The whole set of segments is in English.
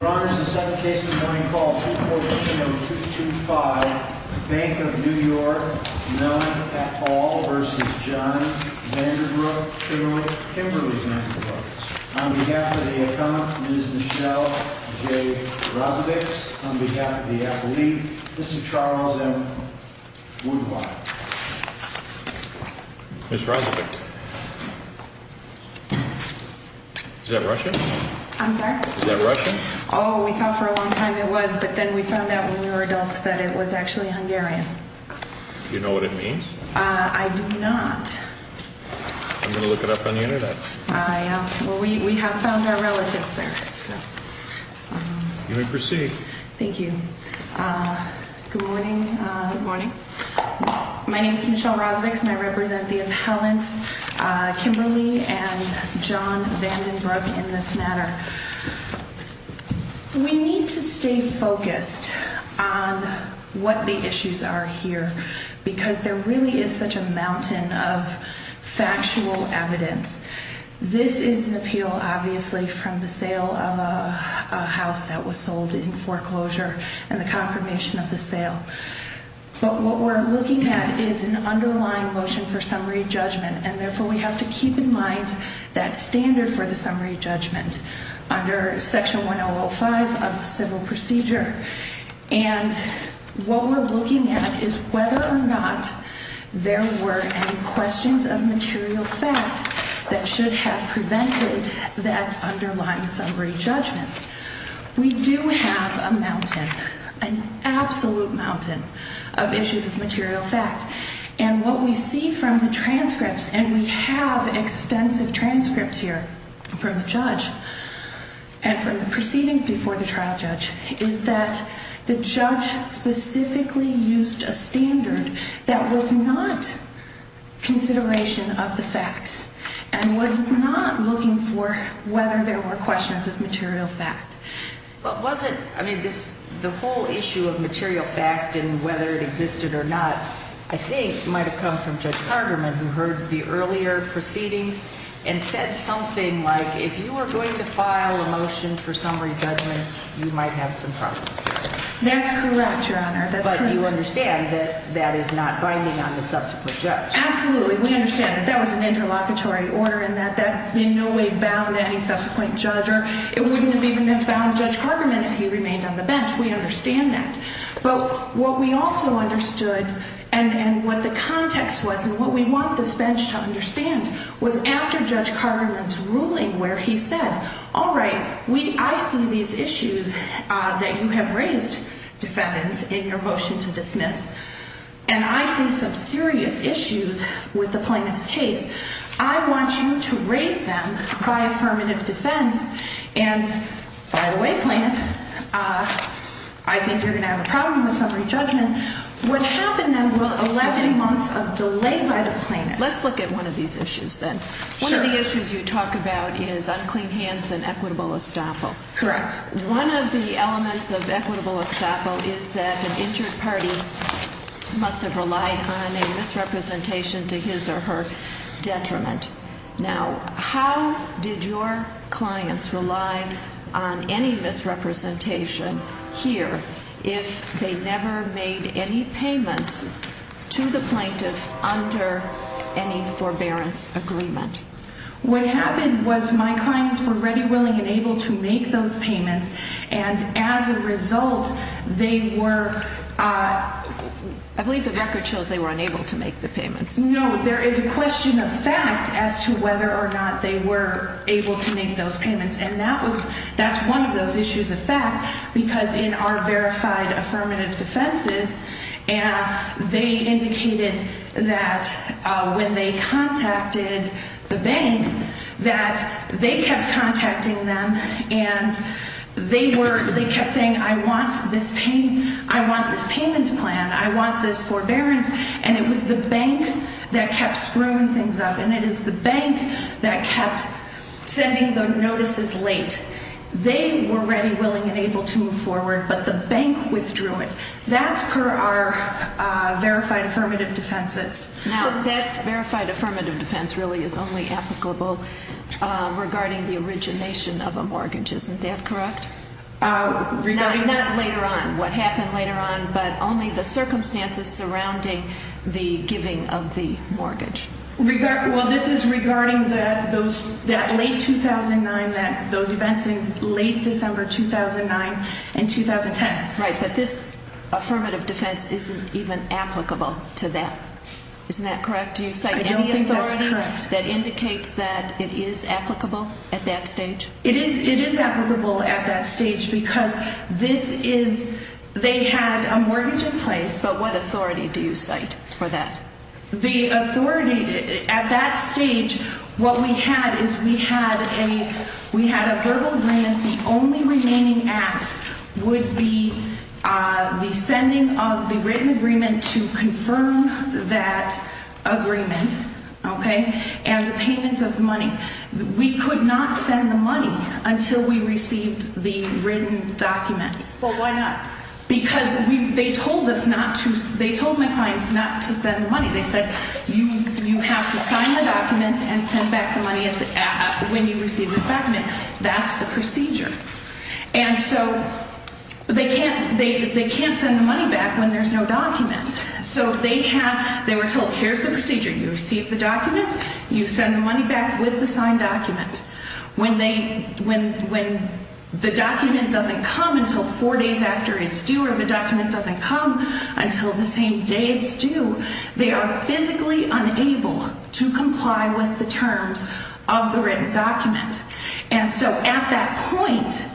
Chamberlain, Kimberly Vandenbrook. On behalf of the accountant, Ms. Michelle J. Rozevich. On behalf of the appellee, Mr. Charles M. Woodpile. Ms. Rozevich, is that Russian? I'm sorry? Is that Russian? Oh, we thought for a long time it was, but then we found out when we were adults that it was actually Hungarian. Do you know what it means? I do not. I'm going to look it up on the internet. Well, we have found our relatives there. You may proceed. Thank you. Good morning. Good morning. My name is Michelle Rozevich and I represent the appellants, Kimberly and John Vandenbrook, in this matter. We need to stay focused on what the issues are here because there really is such a mountain of factual evidence. This is an appeal, obviously, from the sale of a house that was sold in foreclosure and the confirmation of the sale. But what we're looking at is an underlying motion for summary judgment. And therefore, we have to keep in mind that standard for the summary judgment under Section 1005 of the Civil Procedure. And what we're looking at is whether or not there were any questions of material fact that should have prevented that underlying summary judgment. We do have a mountain, an absolute mountain, of issues of material fact. And what we see from the transcripts, and we have extensive transcripts here from the judge and from the proceedings before the trial judge, is that the judge specifically used a standard that was not consideration of the facts and was not looking for whether there were questions of material fact. But was it, I mean, the whole issue of material fact and whether it existed or not, I think, might have come from Judge Carterman, who heard the earlier proceedings and said something like, if you are going to file a motion for summary judgment, you might have some problems. That's correct, Your Honor. That's correct. But you understand that that is not binding on the subsequent judge. Absolutely. We understand that that was an interlocutory order and that that in no way bound any subsequent judge. Or it wouldn't have even been found Judge Carterman if he remained on the bench. We understand that. But what we also understood and what the context was and what we want this bench to understand was after Judge Carterman's ruling where he said, all right, I see these issues that you have raised, defendants, in your motion to dismiss, and I see some serious issues with the plaintiff's case. I want you to raise them by affirmative defense and, by the way, plaintiffs, I think you're going to have a problem with summary judgment. What happened then was 11 months of delay by the plaintiff. Let's look at one of these issues then. One of the issues you talk about is unclean hands and equitable estoppel. Correct. One of the elements of equitable estoppel is that an injured party must have relied on a misrepresentation to his or her detriment. Now, how did your clients rely on any misrepresentation here if they never made any payments to the plaintiff under any forbearance agreement? What happened was my clients were ready, willing, and able to make those payments, and as a result, they were ‑‑ I believe the record shows they were unable to make the payments. No, there is a question of fact as to whether or not they were able to make those payments, and that's one of those issues of fact because in our verified affirmative defenses, they indicated that when they contacted the bank that they kept contacting them and they kept saying, I want this payment plan, I want this forbearance, and it was the bank that kept screwing things up, and it is the bank that kept sending the notices late. They were ready, willing, and able to move forward, but the bank withdrew it. That's per our verified affirmative defenses. Now, that verified affirmative defense really is only applicable regarding the origination of a mortgage. Isn't that correct? Not later on, what happened later on, but only the circumstances surrounding the giving of the mortgage. Well, this is regarding that late 2009, those events in late December 2009 and 2010. Right, but this affirmative defense isn't even applicable to that. Isn't that correct? I don't think that's correct. Do you cite any authority that indicates that it is applicable at that stage? It is applicable at that stage because this is ‑‑ they had a mortgage in place. But what authority do you cite for that? The authority at that stage, what we had is we had a verbal agreement. The only remaining act would be the sending of the written agreement to confirm that agreement, okay, and the payment of the money. We could not send the money until we received the written documents. Well, why not? Because they told us not to ‑‑ they told my clients not to send the money. They said you have to sign the document and send back the money when you receive this document. That's the procedure. And so they can't send the money back when there's no document. So they were told here's the procedure. You receive the document. You send the money back with the signed document. When they ‑‑ when the document doesn't come until four days after it's due or the document doesn't come until the same day it's due, they are physically unable to comply with the terms of the written document. And so at that point,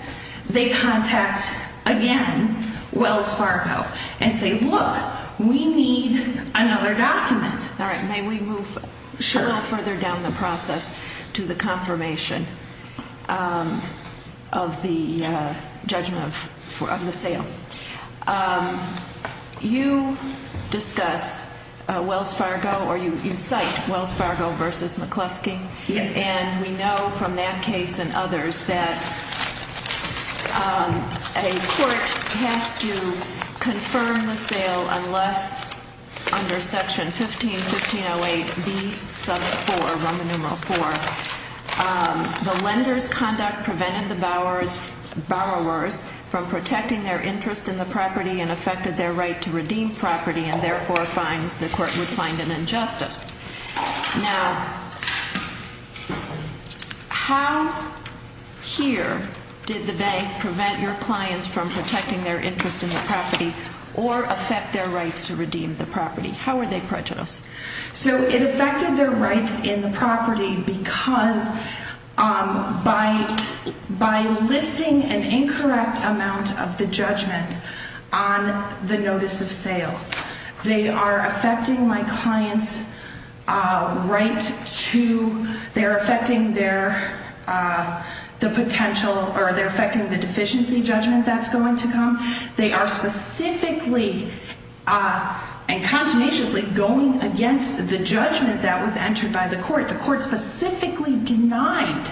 they contact, again, Wells Fargo and say, look, we need another document. All right, may we move a little further down the process to the confirmation of the judgment of the sale? You discuss Wells Fargo or you cite Wells Fargo versus McCluskey. Yes. And we know from that case and others that a court has to confirm the sale unless under section 15, 1508B sub 4, Roman numeral 4, the lender's conduct prevented the borrowers from protecting their interest in the property and affected their right to redeem property and therefore fines the court would find an injustice. Now, how here did the bank prevent your clients from protecting their interest in the property or affect their right to redeem the property? How are they prejudiced? So it affected their rights in the property because by listing an incorrect amount of the judgment on the notice of sale, they are affecting my client's right to, they're affecting their, the potential, or they're affecting the deficiency judgment that's going to come. They are specifically and continuously going against the judgment that was entered by the court. The court specifically denied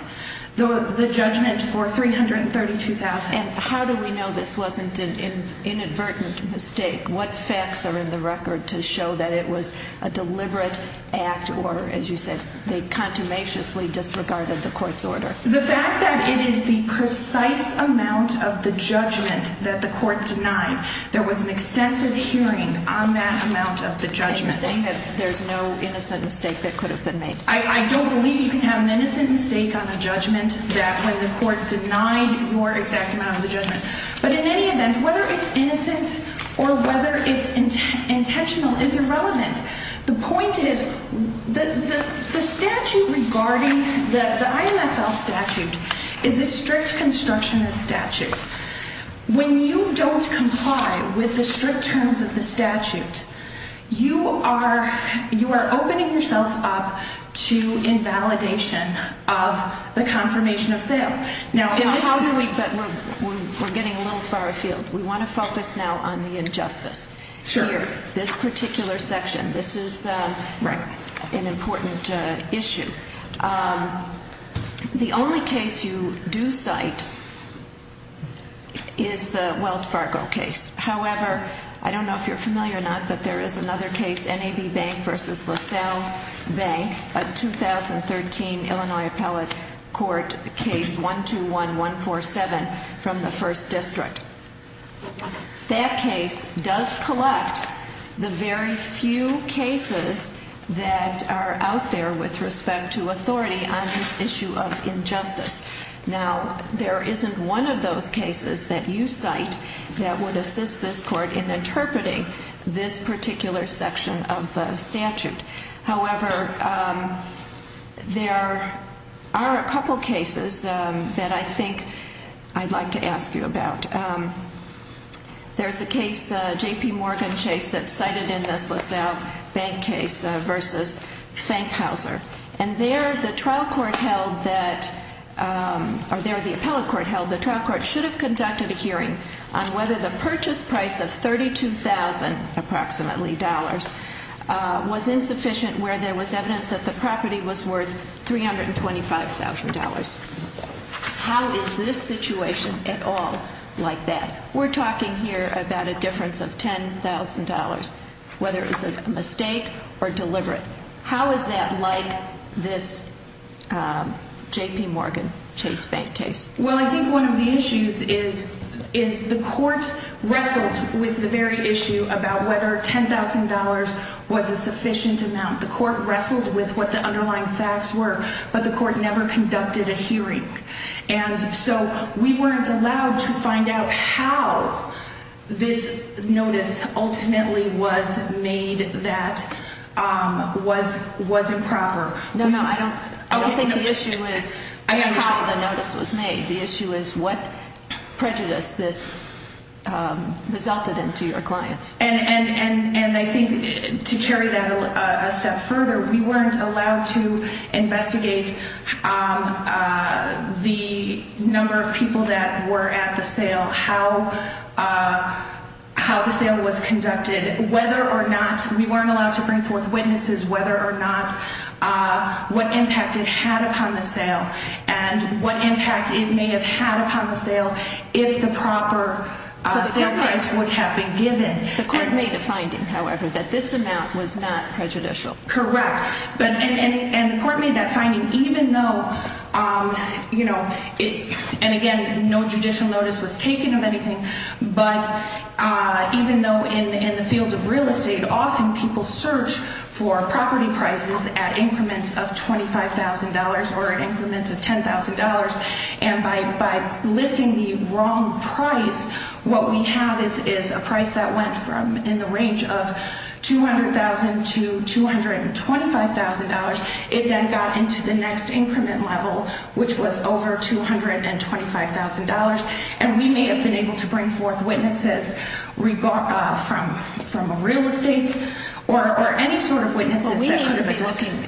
the judgment for $332,000. And how do we know this wasn't an inadvertent mistake? What facts are in the record to show that it was a deliberate act or, as you said, they contumaciously disregarded the court's order? The fact that it is the precise amount of the judgment that the court denied, there was an extensive hearing on that amount of the judgment. And you're saying that there's no innocent mistake that could have been made? I don't believe you can have an innocent mistake on the judgment that when the court denied your exact amount of the judgment. But in any event, whether it's innocent or whether it's intentional is irrelevant. The point is, the statute regarding, the IMFL statute is a strict constructionist statute. When you don't comply with the strict terms of the statute, you are opening yourself up to invalidation of the confirmation of sale. Now, how do we, but we're getting a little far afield. We want to focus now on the injustice. Sure. Here, this particular section. This is an important issue. The only case you do cite is the Wells Fargo case. However, I don't know if you're familiar or not, but there is another case, NAB Bank versus LaSalle Bank, a 2013 Illinois Appellate Court case, 121147, from the 1st District. That case does collect the very few cases that are out there with respect to authority on this issue of injustice. Now, there isn't one of those cases that you cite that would assist this court in interpreting this particular section of the statute. However, there are a couple cases that I think I'd like to ask you about. There's a case, J.P. Morgan Chase, that's cited in this LaSalle Bank case versus Fankhauser. And there, the trial court held that, or there, the appellate court held the trial court should have conducted a hearing on whether the purchase price of $32,000, approximately, was insufficient where there was evidence that the property was worth $325,000. How is this situation at all like that? We're talking here about a difference of $10,000, whether it's a mistake or deliberate. How is that like this J.P. Morgan Chase Bank case? Well, I think one of the issues is the court wrestled with the very issue about whether $10,000 was a sufficient amount. The court wrestled with what the underlying facts were, but the court never conducted a hearing. And so we weren't allowed to find out how this notice ultimately was made that was improper. No, no, I don't think the issue is how the notice was made. The issue is what prejudice this resulted in to your clients. And I think to carry that a step further, we weren't allowed to investigate the number of people that were at the sale, how the sale was conducted, whether or not we weren't allowed to bring forth witnesses, whether or not what impact it had upon the sale and what impact it may have had upon the sale if the proper sale price would have been given. The court made a finding, however, that this amount was not prejudicial. Correct. And the court made that finding even though, you know, and again, no judicial notice was taken of anything. But even though in the field of real estate, often people search for property prices at increments of $25,000 or at increments of $10,000. And by listing the wrong price, what we have is a price that went from in the range of $200,000 to $225,000. It then got into the next increment level, which was over $225,000. And we may have been able to bring forth witnesses from a real estate or any sort of witnesses.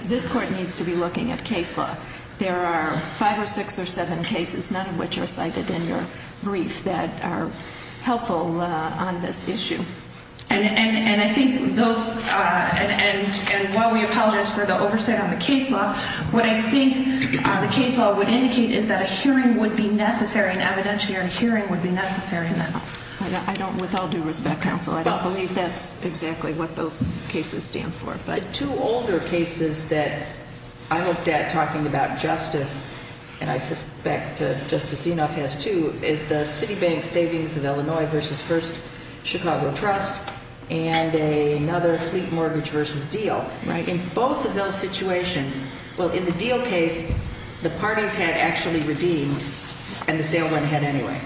This court needs to be looking at case law. There are five or six or seven cases, none of which are cited in your brief, that are helpful on this issue. And I think those, and while we apologize for the oversight on the case law, what I think the case law would indicate is that a hearing would be necessary, an evidentiary hearing would be necessary. I don't, with all due respect, counsel, I don't believe that's exactly what those cases stand for. But two older cases that I looked at talking about justice, and I suspect Justice Enoff has too, is the Citibank Savings of Illinois v. First Chicago Trust and another, Fleet Mortgage v. Deal. In both of those situations, well, in the Deal case, the parties had actually redeemed and the sale went ahead anyway.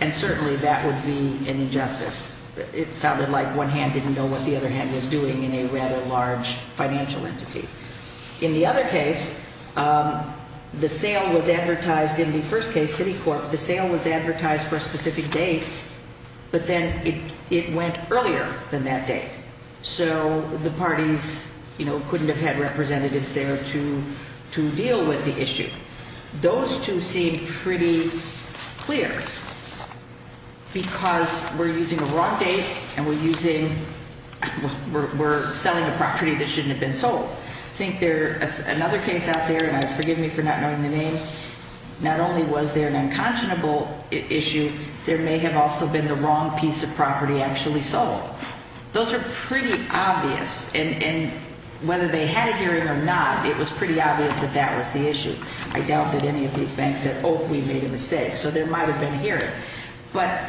And certainly that would be an injustice. It sounded like one hand didn't know what the other hand was doing in a rather large financial entity. In the other case, the sale was advertised, in the first case, Citicorp, the sale was advertised for a specific date, but then it went earlier than that date. So the parties couldn't have had representatives there to deal with the issue. Those two seem pretty clear because we're using a wrong date and we're using, we're selling a property that shouldn't have been sold. I think there's another case out there, and forgive me for not knowing the name, not only was there an unconscionable issue, there may have also been the wrong piece of property actually sold. Those are pretty obvious, and whether they had a hearing or not, it was pretty obvious that that was the issue. I doubt that any of these banks said, oh, we made a mistake, so there might have been a hearing. But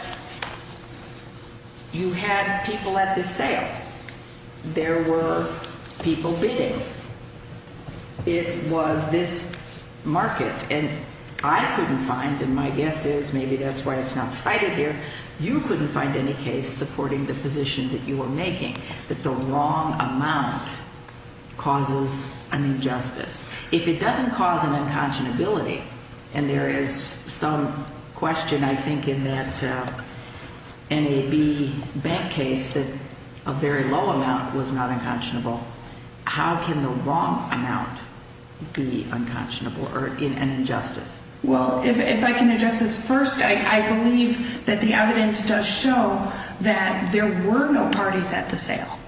you had people at the sale. There were people bidding. It was this market, and I couldn't find, and my guess is maybe that's why it's not cited here, you couldn't find any case supporting the position that you were making, that the wrong amount causes an injustice. If it doesn't cause an unconscionability, and there is some question, I think, in that NAB bank case that a very low amount was not unconscionable, how can the wrong amount be unconscionable or an injustice? Well, if I can address this first, I believe that the evidence does show that there were no parties at the sale,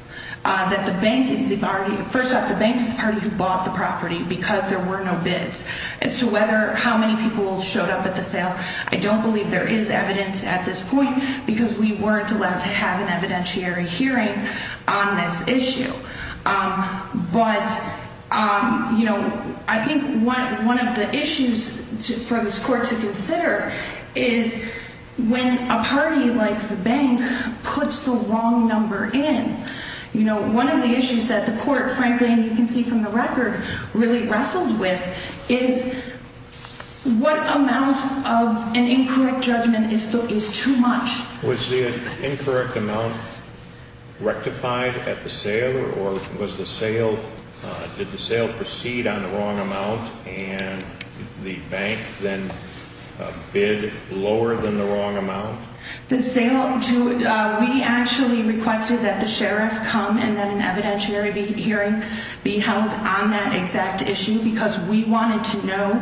that the bank is the party, first off, the bank is the party who bought the property because there were no bids. As to whether, how many people showed up at the sale, I don't believe there is evidence at this point because we weren't allowed to have an evidentiary hearing on this issue. But I think one of the issues for this court to consider is when a party like the bank puts the wrong number in, you know, one of the issues that the court, frankly, and you can see from the record, really wrestled with is what amount of an incorrect judgment is too much? Was the incorrect amount rectified at the sale, or was the sale, did the sale proceed on the wrong amount and the bank then bid lower than the wrong amount? The sale, we actually requested that the sheriff come and that an evidentiary hearing be held on that exact issue because we wanted to know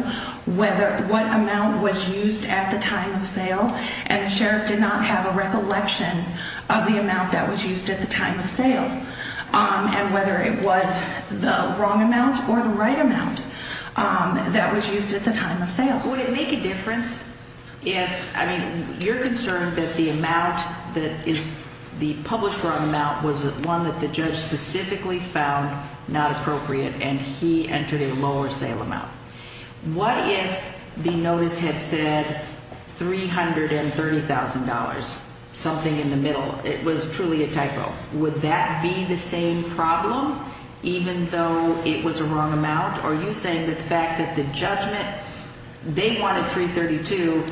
whether, what amount was used at the time of sale and the sheriff did not have a recollection of the amount that was used at the time of sale and whether it was the wrong amount or the right amount that was used at the time of sale. Well, would it make a difference if, I mean, you're concerned that the amount that is, the published wrong amount was one that the judge specifically found not appropriate and he entered a lower sale amount. What if the notice had said $330,000, something in the middle? It was truly a typo. Would that be the same problem, even though it was a wrong amount? Are you saying that the fact that the judgment, they wanted $332,000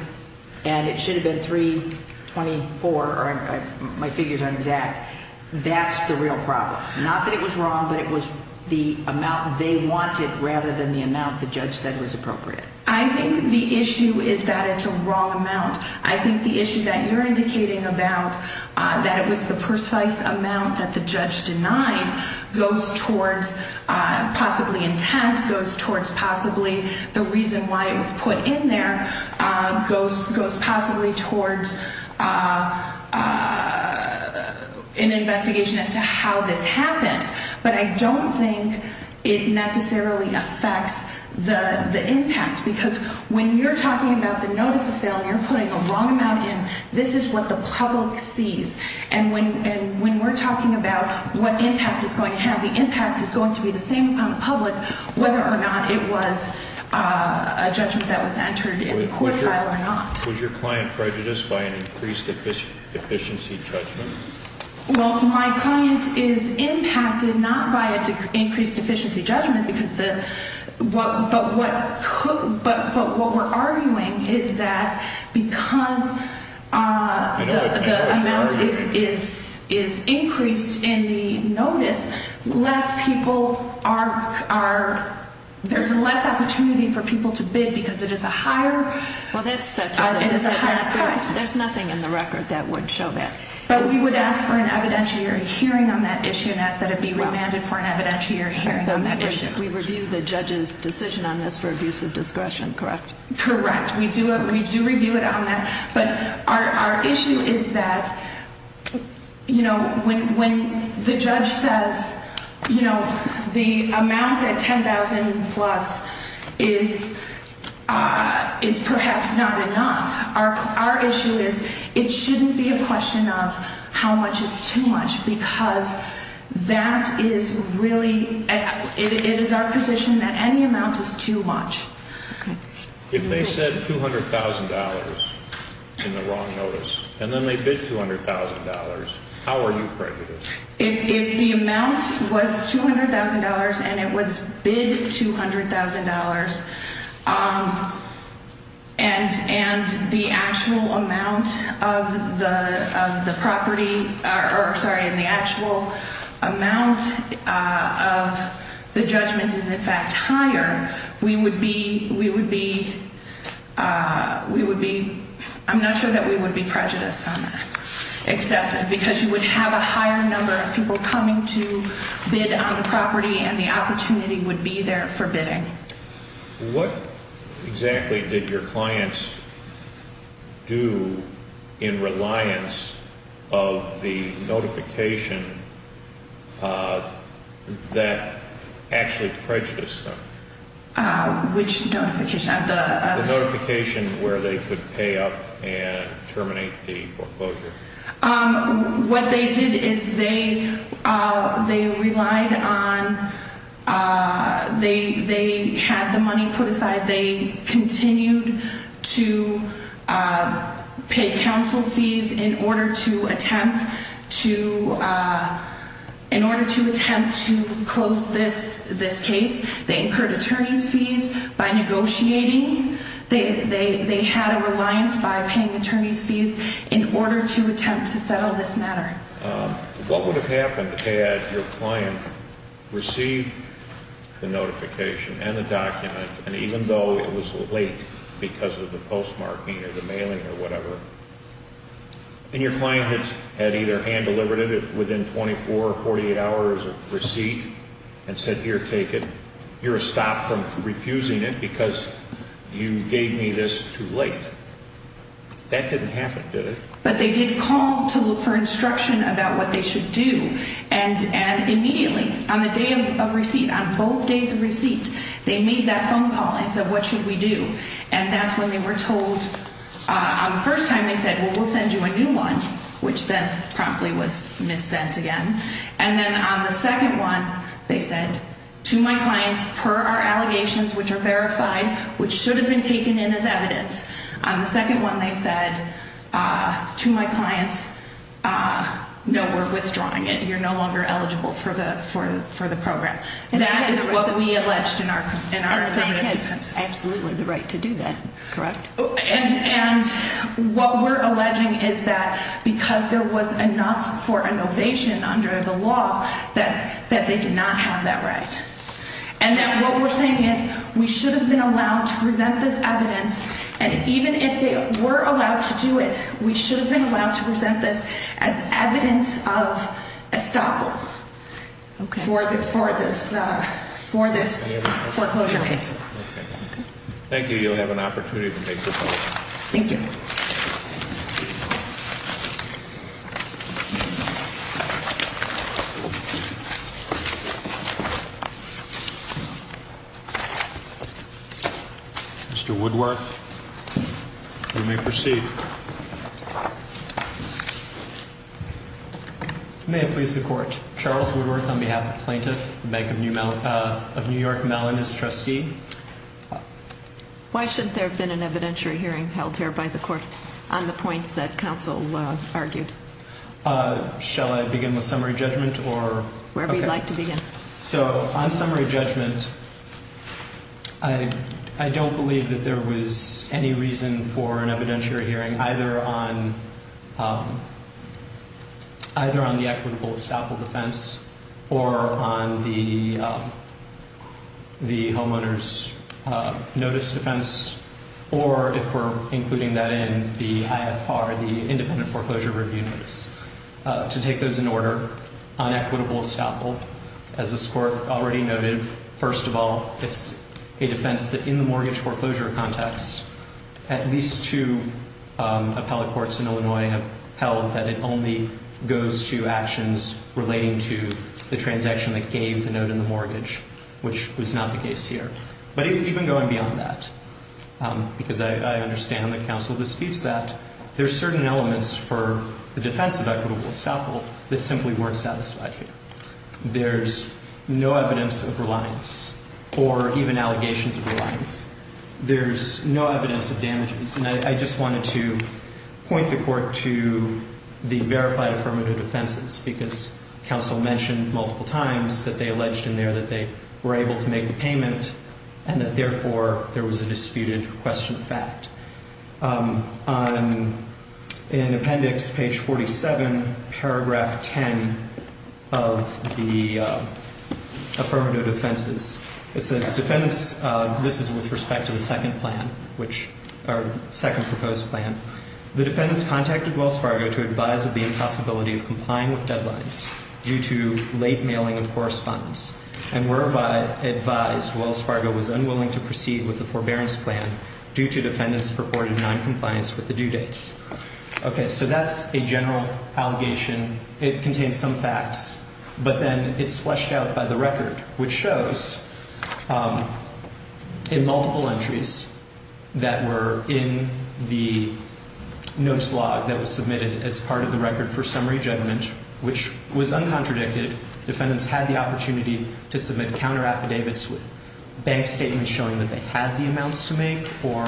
and it should have been $324,000, or my figures aren't exact, that's the real problem? Not that it was wrong, but it was the amount they wanted rather than the amount the judge said was appropriate. I think the issue is that it's a wrong amount. I think the issue that you're indicating about, that it was the precise amount that the judge denied, goes towards possibly intent, goes towards possibly the reason why it was put in there, goes possibly towards an investigation as to how this happened. But I don't think it necessarily affects the impact because when you're talking about the notice of sale and you're putting a wrong amount in, this is what the public sees. And when we're talking about what impact it's going to have, the impact is going to be the same upon the public, whether or not it was a judgment that was entered in the court file or not. Was your client prejudiced by an increased efficiency judgment? Well, my client is impacted not by an increased efficiency judgment, but what we're arguing is that because the amount is increased in the notice, there's less opportunity for people to bid because it is a higher price. There's nothing in the record that would show that. But we would ask for an evidentiary hearing on that issue and ask that it be remanded for an evidentiary hearing on that issue. We review the judge's decision on this for abuse of discretion, correct? Correct. We do review it on that. But our issue is that when the judge says the amount at $10,000 plus is perhaps not enough, our issue is it shouldn't be a question of how much is too much because that is really – it is our position that any amount is too much. Okay. If they said $200,000 in the wrong notice and then they bid $200,000, how are you prejudiced? If the amount was $200,000 and it was bid $200,000 and the actual amount of the property – or sorry, the actual amount of the judgment is in fact higher, we would be – we would be – we would be – we would be receptive because you would have a higher number of people coming to bid on the property and the opportunity would be there for bidding. What exactly did your clients do in reliance of the notification that actually prejudiced them? Which notification? The notification where they could pay up and terminate the proposal. What they did is they relied on – they had the money put aside. They continued to pay counsel fees in order to attempt to – in order to attempt to close this case. They incurred attorney's fees by negotiating. They had a reliance by paying attorney's fees in order to attempt to settle this matter. What would have happened had your client received the notification and the document, and even though it was late because of the postmarking or the mailing or whatever, and your client had either hand-delivered it within 24 or 48 hours of receipt and said, here, take it, you're a stop from refusing it because you gave me this too late. That didn't happen, did it? But they did call to look for instruction about what they should do, and immediately, on the day of receipt, on both days of receipt, they made that phone call and said, what should we do? And that's when they were told – on the first time, they said, well, we'll send you a new one, which then promptly was missent again. And then on the second one, they said, to my clients, per our allegations, which are verified, which should have been taken in as evidence. On the second one, they said, to my clients, no, we're withdrawing it. You're no longer eligible for the program. That is what we alleged in our affirmative defense. That is absolutely the right to do that, correct? And what we're alleging is that because there was enough for innovation under the law, that they did not have that right. And then what we're saying is we should have been allowed to present this evidence, and even if they were allowed to do it, we should have been allowed to present this as evidence of estoppel for this foreclosure case. Okay. Thank you. You'll have an opportunity to take this home. Thank you. Mr. Woodworth, you may proceed. May it please the Court. Charles Woodworth on behalf of the plaintiff, Bank of New York, Mellon, as trustee. Why shouldn't there have been an evidentiary hearing held here by the Court on the points that counsel argued? Shall I begin with summary judgment? Wherever you'd like to begin. So on summary judgment, I don't believe that there was any reason for an evidentiary hearing, either on the equitable estoppel defense or on the homeowner's notice defense, or if we're including that in the IFR, the independent foreclosure review notice, to take those in order on equitable estoppel. As this Court already noted, first of all, it's a defense that in the mortgage foreclosure context, at least two appellate courts in Illinois have held that it only goes to actions relating to the transaction that gave the note in the mortgage, which was not the case here. But even going beyond that, because I understand that counsel disputes that, there's certain elements for the defense of equitable estoppel that simply weren't satisfied here. There's no evidence of reliance or even allegations of reliance. There's no evidence of damages. And I just wanted to point the Court to the verified affirmative defenses, because counsel mentioned multiple times that they alleged in there that they were able to make the payment and that, therefore, there was a disputed question of fact. In appendix page 47, paragraph 10 of the affirmative defenses, it says, defense, this is with respect to the second plan, which, or second proposed plan. The defendants contacted Wells Fargo to advise of the impossibility of complying with deadlines due to late mailing of correspondence and were advised Wells Fargo was unwilling to proceed with the forbearance plan due to defendants' purported noncompliance with the due dates. Okay, so that's a general allegation. It contains some facts, but then it's fleshed out by the record, which shows in multiple entries that were in the notes log that was submitted as part of the record for summary judgment, which was uncontradicted. Defendants had the opportunity to submit counteraffidavits with bank statements showing that they had the amounts to make or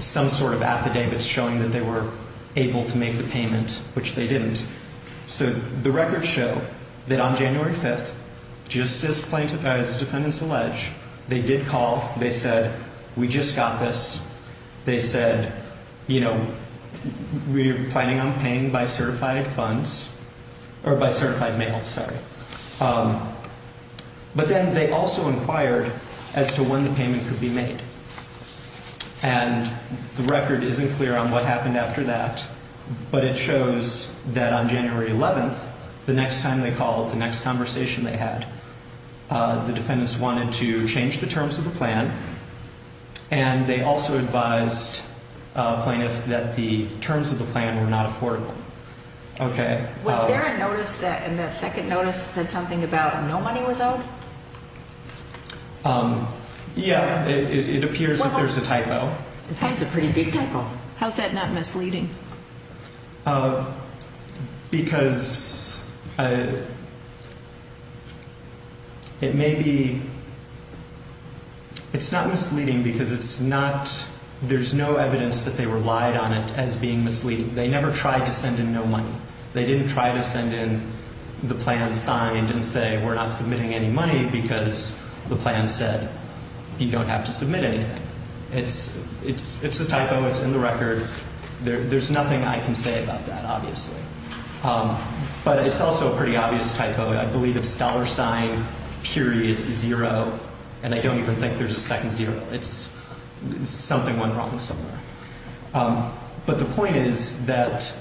some sort of affidavits showing that they were able to make the payment, which they didn't. So the records show that on January 5th, just as plaintiffs, as defendants allege, they did call. They said, we just got this. They said, you know, we're planning on paying by certified funds or by certified mail, sorry. But then they also inquired as to when the payment could be made. And the record isn't clear on what happened after that, but it shows that on January 11th, the next time they called, the next conversation they had, the defendants wanted to change the terms of the plan, and they also advised plaintiffs that the terms of the plan were not affordable. Okay. Was there a notice that in that second notice said something about no money was owed? Yeah. It appears that there's a typo. That's a pretty big typo. How is that not misleading? Because it may be. It's not misleading because it's not. There's no evidence that they relied on it as being misleading. They never tried to send in no money. They didn't try to send in the plan signed and say we're not submitting any money because the plan said you don't have to submit anything. It's a typo. It's in the record. There's nothing I can say about that, obviously. But it's also a pretty obvious typo. I believe it's dollar sign, period, zero, and I don't even think there's a second zero. It's something went wrong somewhere. But the point is that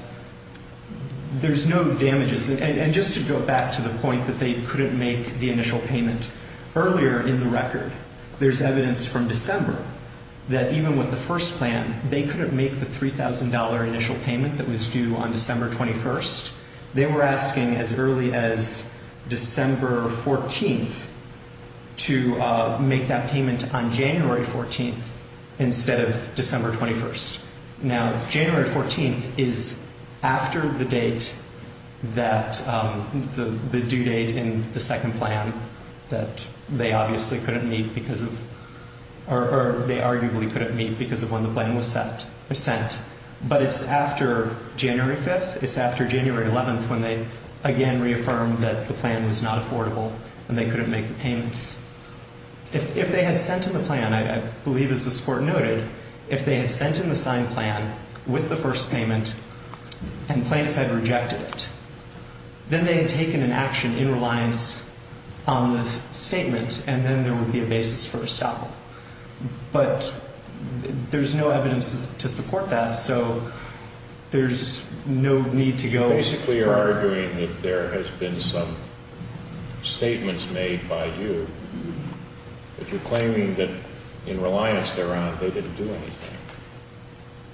there's no damages. And just to go back to the point that they couldn't make the initial payment earlier in the record, there's evidence from December that even with the first plan, they couldn't make the $3,000 initial payment that was due on December 21st. They were asking as early as December 14th to make that payment on January 14th instead of December 21st. Now, January 14th is after the date that the due date in the second plan that they obviously couldn't meet because of, or they arguably couldn't meet because of when the plan was sent. But it's after January 5th, it's after January 11th when they again reaffirmed that the plan was not affordable and they couldn't make the payments. If they had sent in the plan, I believe as this Court noted, if they had sent in the signed plan with the first payment and plaintiff had rejected it, then they had taken an action in reliance on the statement, and then there would be a basis for a stop. But there's no evidence to support that, so there's no need to go further. You basically are arguing that there has been some statements made by you that you're claiming that in reliance they're on, they didn't do anything.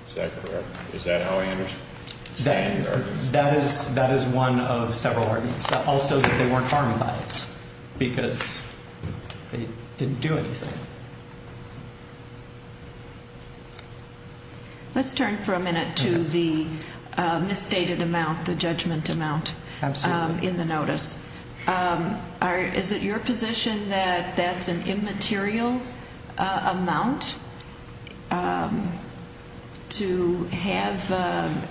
Is that correct? Is that how I understand your argument? That is one of several arguments. Also that they weren't harmed by it because they didn't do anything. Let's turn for a minute to the misstated amount, the judgment amount in the notice. Is it your position that that's an immaterial amount to have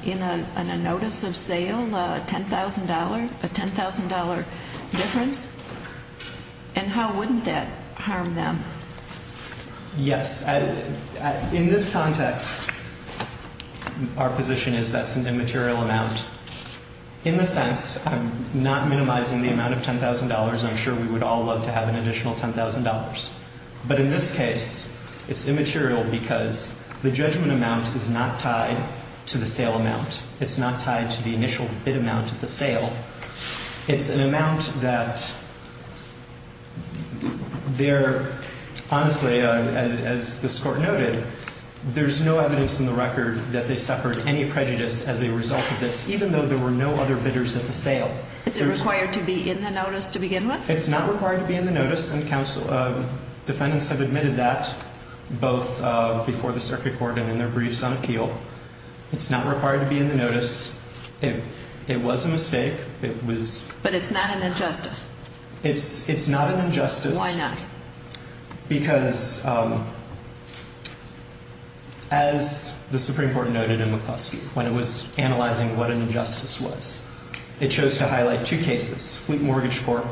in a notice of sale, a $10,000 difference? And how wouldn't that harm them? Yes. In this context, our position is that's an immaterial amount. In the sense, I'm not minimizing the amount of $10,000. I'm sure we would all love to have an additional $10,000. But in this case, it's immaterial because the judgment amount is not tied to the sale amount. It's not tied to the initial bid amount at the sale. It's an amount that they're, honestly, as this court noted, there's no evidence in the record that they suffered any prejudice as a result of this, even though there were no other bidders at the sale. Is it required to be in the notice to begin with? It's not required to be in the notice. And counsel, defendants have admitted that both before the circuit court and in their briefs on appeal. It was a mistake. It was. But it's not an injustice. It's not an injustice. Why not? Because as the Supreme Court noted in McCluskey, when it was analyzing what an injustice was, it chose to highlight two cases, Fleet Mortgage Court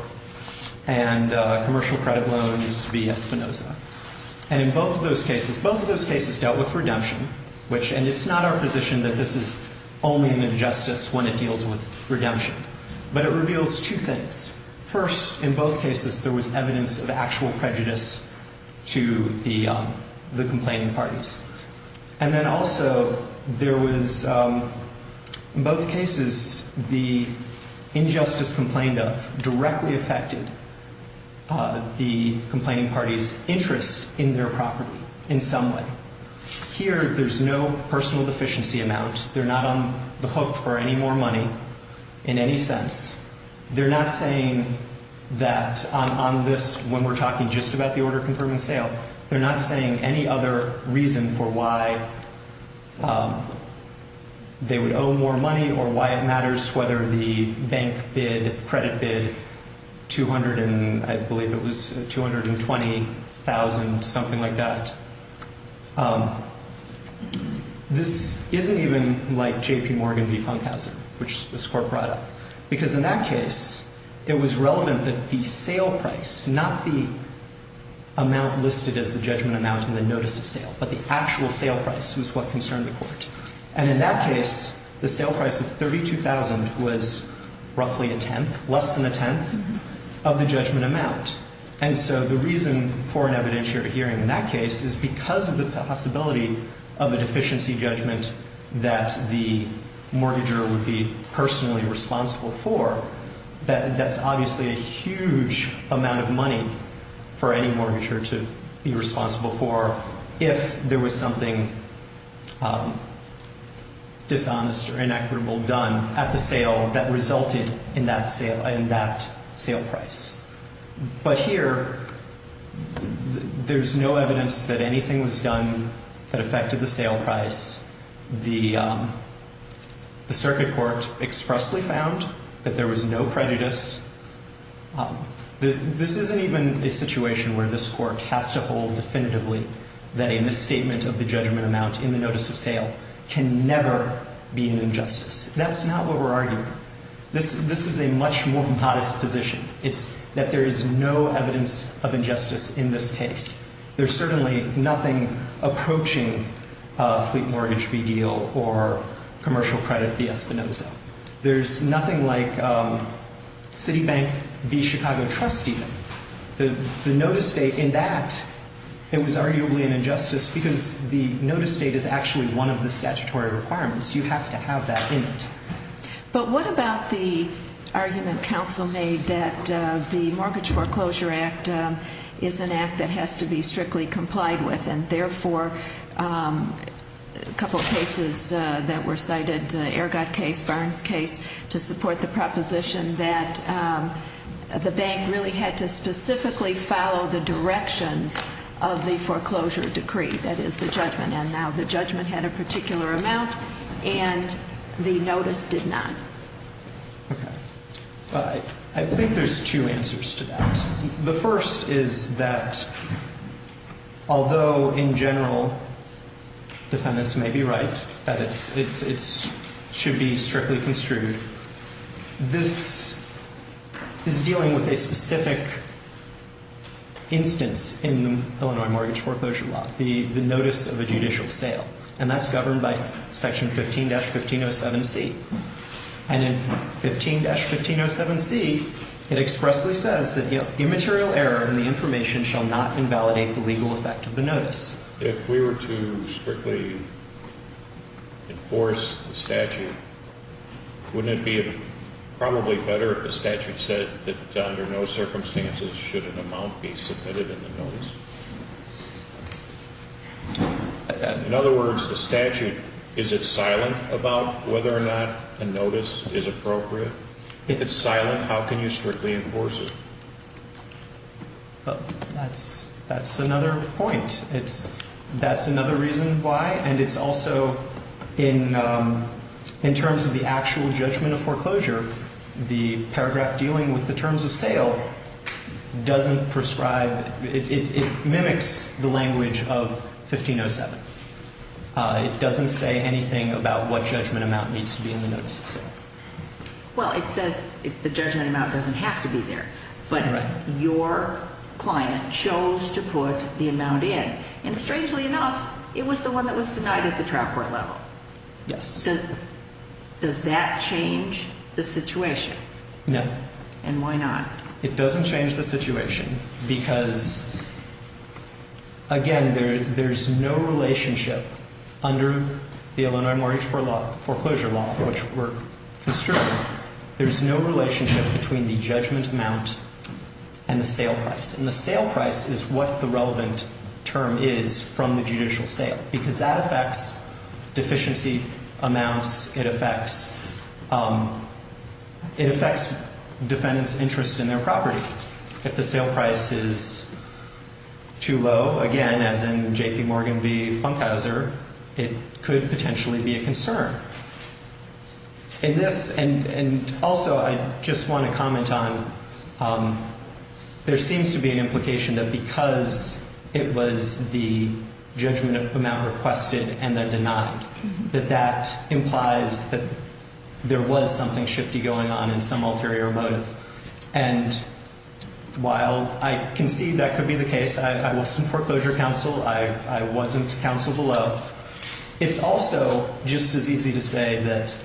and commercial credit loans v. Espinoza. And in both of those cases, both of those cases dealt with redemption, and it's not our position that this is only an injustice when it deals with redemption. But it reveals two things. First, in both cases, there was evidence of actual prejudice to the complaining parties. And then also, there was, in both cases, the injustice complained of directly affected the complaining party's interest in their property in some way. Here, there's no personal deficiency amount. They're not on the hook for any more money in any sense. They're not saying that on this, when we're talking just about the order confirming sale, they're not saying any other reason for why they would owe more money or why it matters whether the bank bid, credit bid, 200 and I believe it was 220,000, something like that. This isn't even like J.P. Morgan v. Funkhauser, which this Court brought up. Because in that case, it was relevant that the sale price, not the amount listed as the judgment amount in the notice of sale, but the actual sale price was what concerned the Court. And in that case, the sale price of 32,000 was roughly a tenth, less than a tenth of the judgment amount. And so the reason for an evidentiary hearing in that case is because of the possibility of a deficiency judgment that the mortgager would be personally responsible for. That's obviously a huge amount of money for any mortgager to be responsible for if there was something dishonest or inequitable done at the sale that resulted in that sale price. But here, there's no evidence that anything was done that affected the sale price. The circuit court expressly found that there was no prejudice. This isn't even a situation where this Court has to hold definitively that a misstatement of the judgment amount in the notice of sale can never be an injustice. That's not what we're arguing. This is a much more modest position. It's that there is no evidence of injustice in this case. There's certainly nothing approaching a fleet mortgage redeal or commercial credit v. Espinoza. There's nothing like Citibank v. Chicago trustee. The notice date in that, it was arguably an injustice because the notice date is actually one of the statutory requirements. You have to have that in it. But what about the argument counsel made that the Mortgage Foreclosure Act is an act that has to be strictly complied with, and therefore, a couple of cases that were cited, the Ergod case, Barnes case, to support the proposition that the bank really had to specifically follow the directions of the foreclosure decree, that is, the judgment. And now the judgment had a particular amount, and the notice did not. Okay. I think there's two answers to that. The first is that although, in general, defendants may be right that it should be strictly construed, this is dealing with a specific instance in the Illinois mortgage foreclosure law, the notice of a judicial sale. And that's governed by Section 15-1507C. And in 15-1507C, it expressly says that immaterial error in the information shall not invalidate the legal effect of the notice. If we were to strictly enforce the statute, wouldn't it be probably better if the statute said that under no circumstances should an amount be submitted in the notice? In other words, the statute, is it silent about whether or not a notice is appropriate? If it's silent, how can you strictly enforce it? That's another point. That's another reason why, and it's also in terms of the actual judgment of foreclosure, the paragraph dealing with the terms of sale doesn't prescribe, it mimics the language of 1507. It doesn't say anything about what judgment amount needs to be in the notice of sale. Well, it says the judgment amount doesn't have to be there. But your client chose to put the amount in. And strangely enough, it was the one that was denied at the trial court level. Yes. Does that change the situation? No. And why not? It doesn't change the situation because, again, there's no relationship under the Illinois Mortgage Foreclosure Law, which we're construing. There's no relationship between the judgment amount and the sale price. And the sale price is what the relevant term is from the judicial sale, because that affects deficiency amounts. It affects defendants' interest in their property. If the sale price is too low, again, as in J.P. Morgan v. Funkhauser, it could potentially be a concern. And also, I just want to comment on there seems to be an implication that because it was the judgment amount requested and then denied, that that implies that there was something shifty going on in some ulterior motive. And while I concede that could be the case, I wasn't foreclosure counsel. I wasn't counsel below. It's also just as easy to say that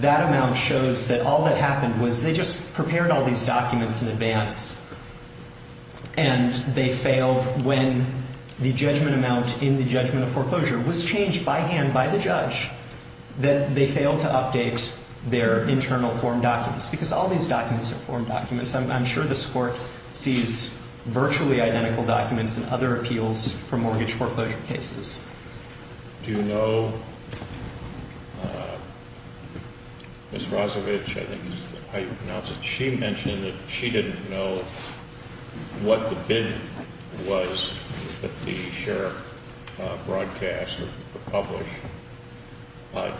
that amount shows that all that happened was they just prepared all these documents in advance, and they failed when the judgment amount in the judgment of foreclosure was changed by hand by the judge, that they failed to update their internal form documents, because all these documents are form documents. I'm sure this Court sees virtually identical documents in other appeals for mortgage foreclosure cases. Do you know, Ms. Rozovich, I think is how you pronounce it, she mentioned that she didn't know what the bid was that the sheriff broadcast or published.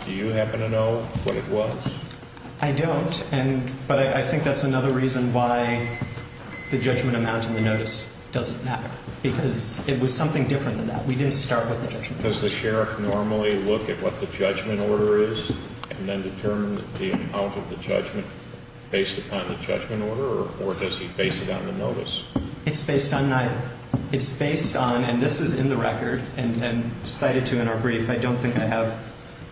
Do you happen to know what it was? I don't, but I think that's another reason why the judgment amount in the notice doesn't matter, because it was something different than that. We didn't start with the judgment. Does the sheriff normally look at what the judgment order is and then determine the amount of the judgment based upon the judgment order, or does he base it on the notice? It's based on neither. It's based on, and this is in the record and cited to in our brief. I don't think I have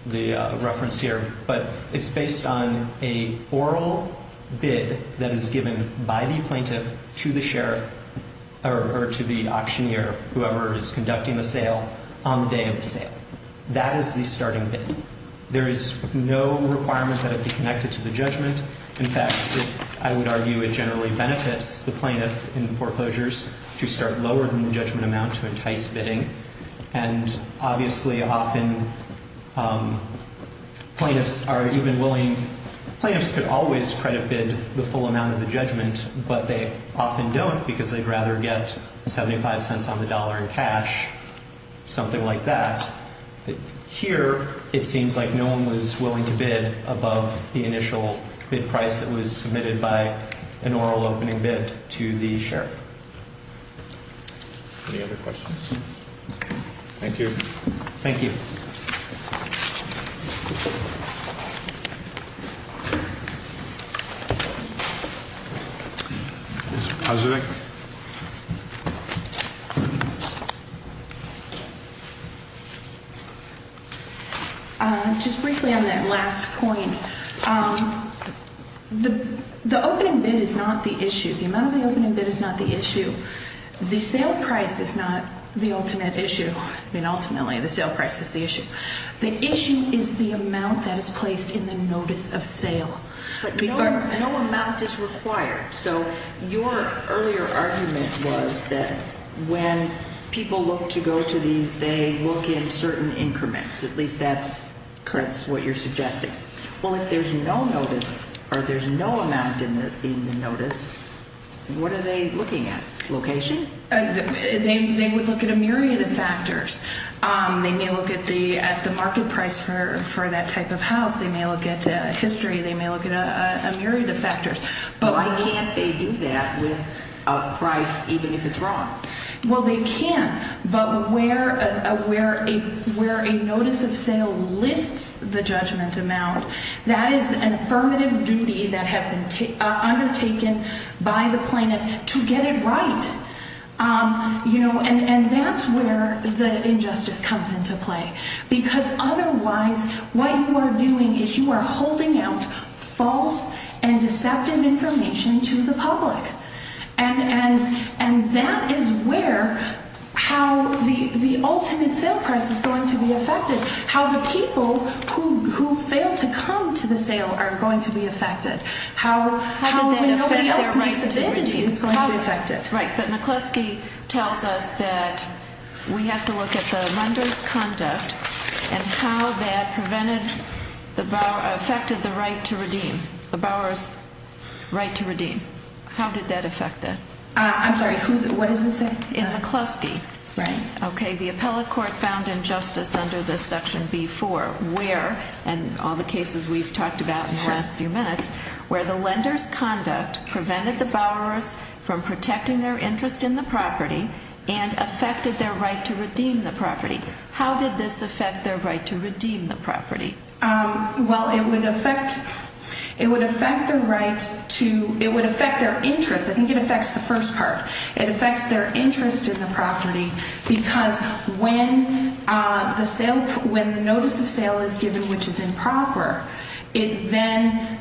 the reference here. But it's based on an oral bid that is given by the plaintiff to the sheriff or to the auctioneer, whoever is conducting the sale, on the day of the sale. That is the starting bid. There is no requirement that it be connected to the judgment. In fact, I would argue it generally benefits the plaintiff in foreclosures to start lower than the judgment amount to entice bidding, and obviously often plaintiffs are even willing, plaintiffs could always credit bid the full amount of the judgment, but they often don't because they'd rather get 75 cents on the dollar in cash, something like that. Here, it seems like no one was willing to bid above the initial bid price that was submitted by an oral opening bid to the sheriff. Any other questions? Thank you. Thank you. Ms. Pasevic. Just briefly on that last point, the opening bid is not the issue. The amount of the opening bid is not the issue. The sale price is not the ultimate issue. I mean, ultimately, the sale price is the issue. The issue is the amount that is placed in the notice of sale. No amount is required. So your earlier argument was that when people look to go to these, they look in certain increments. At least that's what you're suggesting. Well, if there's no notice or there's no amount in the notice, what are they looking at, location? They would look at a myriad of factors. They may look at the market price for that type of house. They may look at history. They may look at a myriad of factors. Why can't they do that with a price, even if it's wrong? Well, they can, but where a notice of sale lists the judgment amount, that is an affirmative duty that has been undertaken by the plaintiff to get it right. And that's where the injustice comes into play. Because otherwise, what you are doing is you are holding out false and deceptive information to the public. And that is where how the ultimate sale price is going to be affected, how the people who fail to come to the sale are going to be affected, how nobody else makes a bid is going to be affected. Right, but McCluskey tells us that we have to look at the lender's conduct and how that affected the right to redeem, the borrower's right to redeem. How did that affect that? I'm sorry, what does it say? In McCluskey. Right. Okay, the appellate court found injustice under this Section B-4 where, and all the cases we've talked about in the last few minutes, where the lender's conduct prevented the borrowers from protecting their interest in the property and affected their right to redeem the property. How did this affect their right to redeem the property? Well, it would affect their right to, it would affect their interest. I think it affects the first part. It affects their interest in the property because when the sale, when the notice of sale is given, which is improper, it then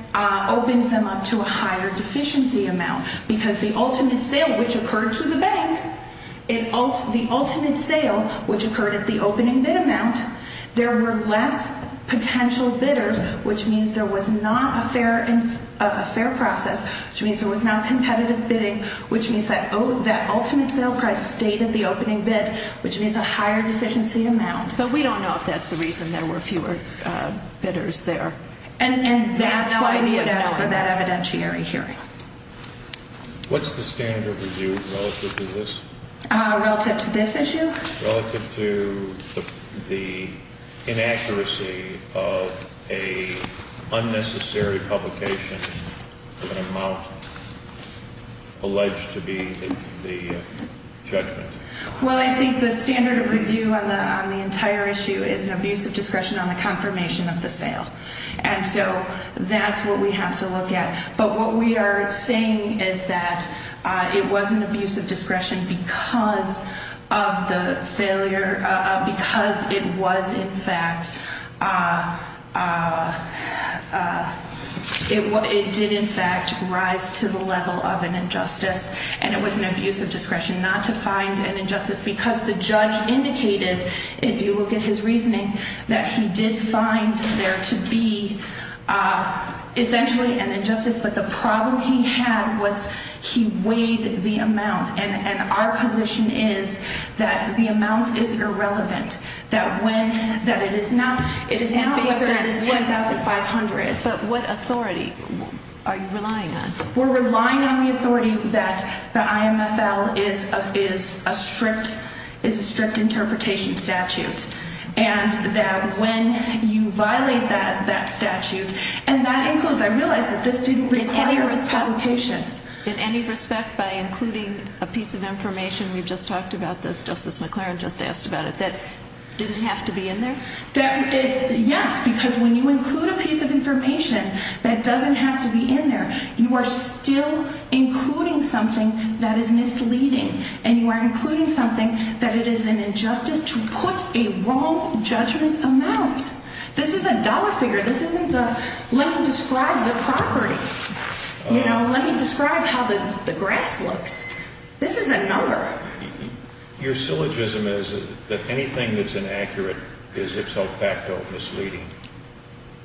opens them up to a higher deficiency amount because the ultimate sale, which occurred to the bank, the ultimate sale, which occurred at the opening bid amount, there were less potential bidders, which means there was not a fair process, which means there was not competitive bidding, which means that ultimate sale price stayed at the opening bid, which means a higher deficiency amount. But we don't know if that's the reason there were fewer bidders there. And that's why we would ask for that evidentiary hearing. What's the standard of review relative to this? Relative to this issue? Relative to the inaccuracy of an unnecessary publication of an amount alleged to be the judgment. Well, I think the standard of review on the entire issue is an abuse of discretion on the confirmation of the sale. And so that's what we have to look at. But what we are saying is that it was an abuse of discretion because of the failure, because it was in fact, it did in fact rise to the level of an injustice. And it was an abuse of discretion not to find an injustice because the judge indicated, if you look at his reasoning, that he did find there to be essentially an injustice. But the problem he had was he weighed the amount. And our position is that the amount is irrelevant, that when, that it is not, it is not less than 10,500. But what authority are you relying on? We're relying on the authority that the IMFL is a strict interpretation statute. And that when you violate that statute, and that includes, I realize that this didn't require a publication. In any respect, by including a piece of information, we've just talked about this, Justice McClaren just asked about it, that didn't have to be in there? Yes, because when you include a piece of information that doesn't have to be in there, you are still including something that is misleading. And you are including something that it is an injustice to put a wrong judgment amount. This isn't a dollar figure. This isn't a, let me describe the property. You know, let me describe how the grass looks. This is a number. Your syllogism is that anything that's inaccurate is itself facto misleading.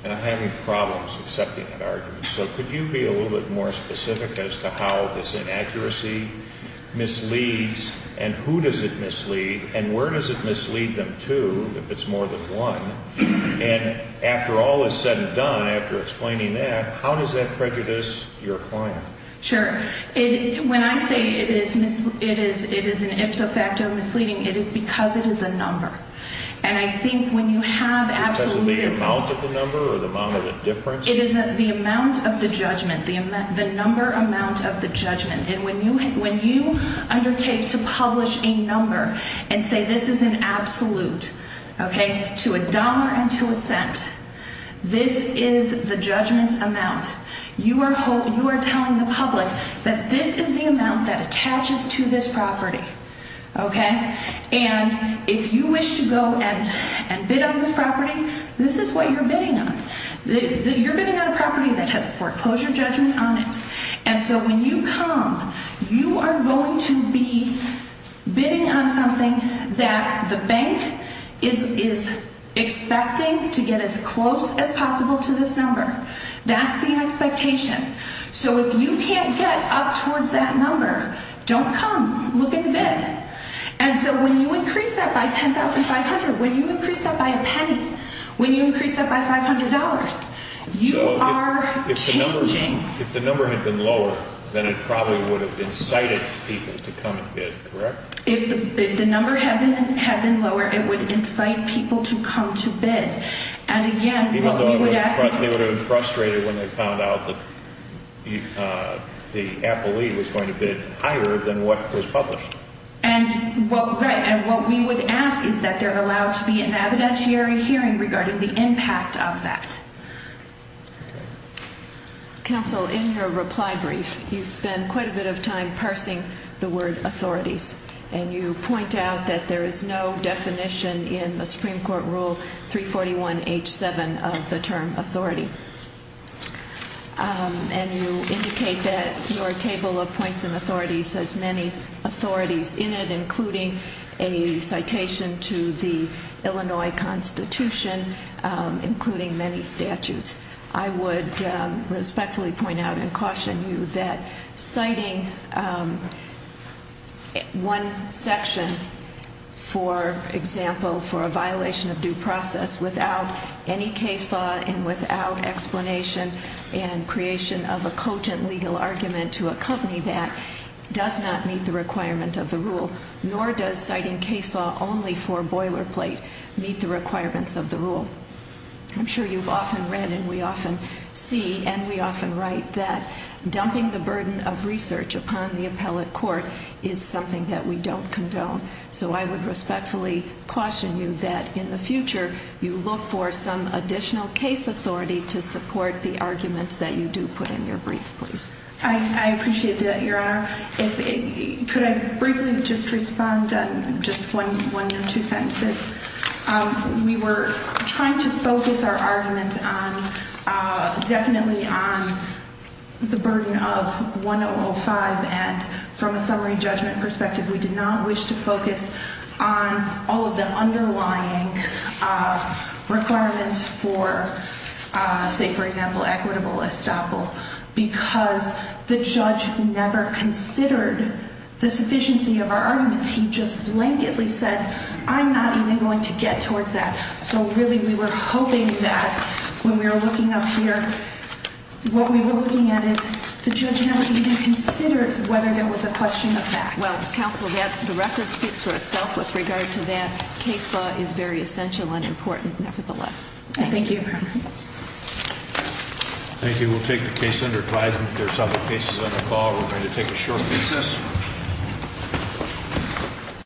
And I'm having problems accepting that argument. So could you be a little bit more specific as to how this inaccuracy misleads and who does it mislead and where does it mislead them to if it's more than one? And after all is said and done, after explaining that, how does that prejudice your client? Sure. When I say it is an ipso facto misleading, it is because it is a number. And I think when you have absolutism... Because of the amount of the number or the amount of the difference? It is the amount of the judgment, the number amount of the judgment. And when you undertake to publish a number and say this is an absolute, okay, to a dollar and to a cent, this is the judgment amount, you are telling the public that this is the amount that attaches to this property, okay? And if you wish to go and bid on this property, this is what you're bidding on. You're bidding on a property that has a foreclosure judgment on it. And so when you come, you are going to be bidding on something that the bank is expecting to get as close as possible to this number. That's the expectation. So if you can't get up towards that number, don't come. Look in the bid. And so when you increase that by $10,500, when you increase that by a penny, when you increase that by $500, you are changing. If the number had been lower, then it probably would have incited people to come and bid, correct? If the number had been lower, it would incite people to come to bid. Even though they would have been frustrated when they found out that the appellee was going to bid higher than what was published. And what we would ask is that there allow to be an evidentiary hearing regarding the impact of that. Okay. Counsel, in your reply brief, you spend quite a bit of time parsing the word authorities. And you point out that there is no definition in the Supreme Court Rule 341H7 of the term authority. And you indicate that your table of points and authorities has many authorities in it, including a citation to the Illinois Constitution, including many statutes. I would respectfully point out and caution you that citing one section, for example, for a violation of due process without any case law and without explanation and creation of a cotent legal argument to accompany that does not meet the requirement of the rule. Nor does citing case law only for boilerplate meet the requirements of the rule. I'm sure you've often read and we often see and we often write that dumping the burden of research upon the appellate court is something that we don't condone. So I would respectfully caution you that in the future, you look for some additional case authority to support the arguments that you do put in your brief, please. I appreciate that, Your Honor. Could I briefly just respond on just one or two sentences? We were trying to focus our argument definitely on the burden of 1005. And from a summary judgment perspective, we did not wish to focus on all of the underlying requirements for, say, for example, equitable estoppel because the judge never considered the sufficiency of our arguments. He just blanketly said, I'm not even going to get towards that. So really, we were hoping that when we were looking up here, what we were looking at is the judge never even considered whether there was a question of that. Well, counsel, the record speaks for itself with regard to that. Case law is very essential and important nevertheless. Thank you. Thank you. We'll take the case under advisement. There are several cases on the call. We're going to take a short recess.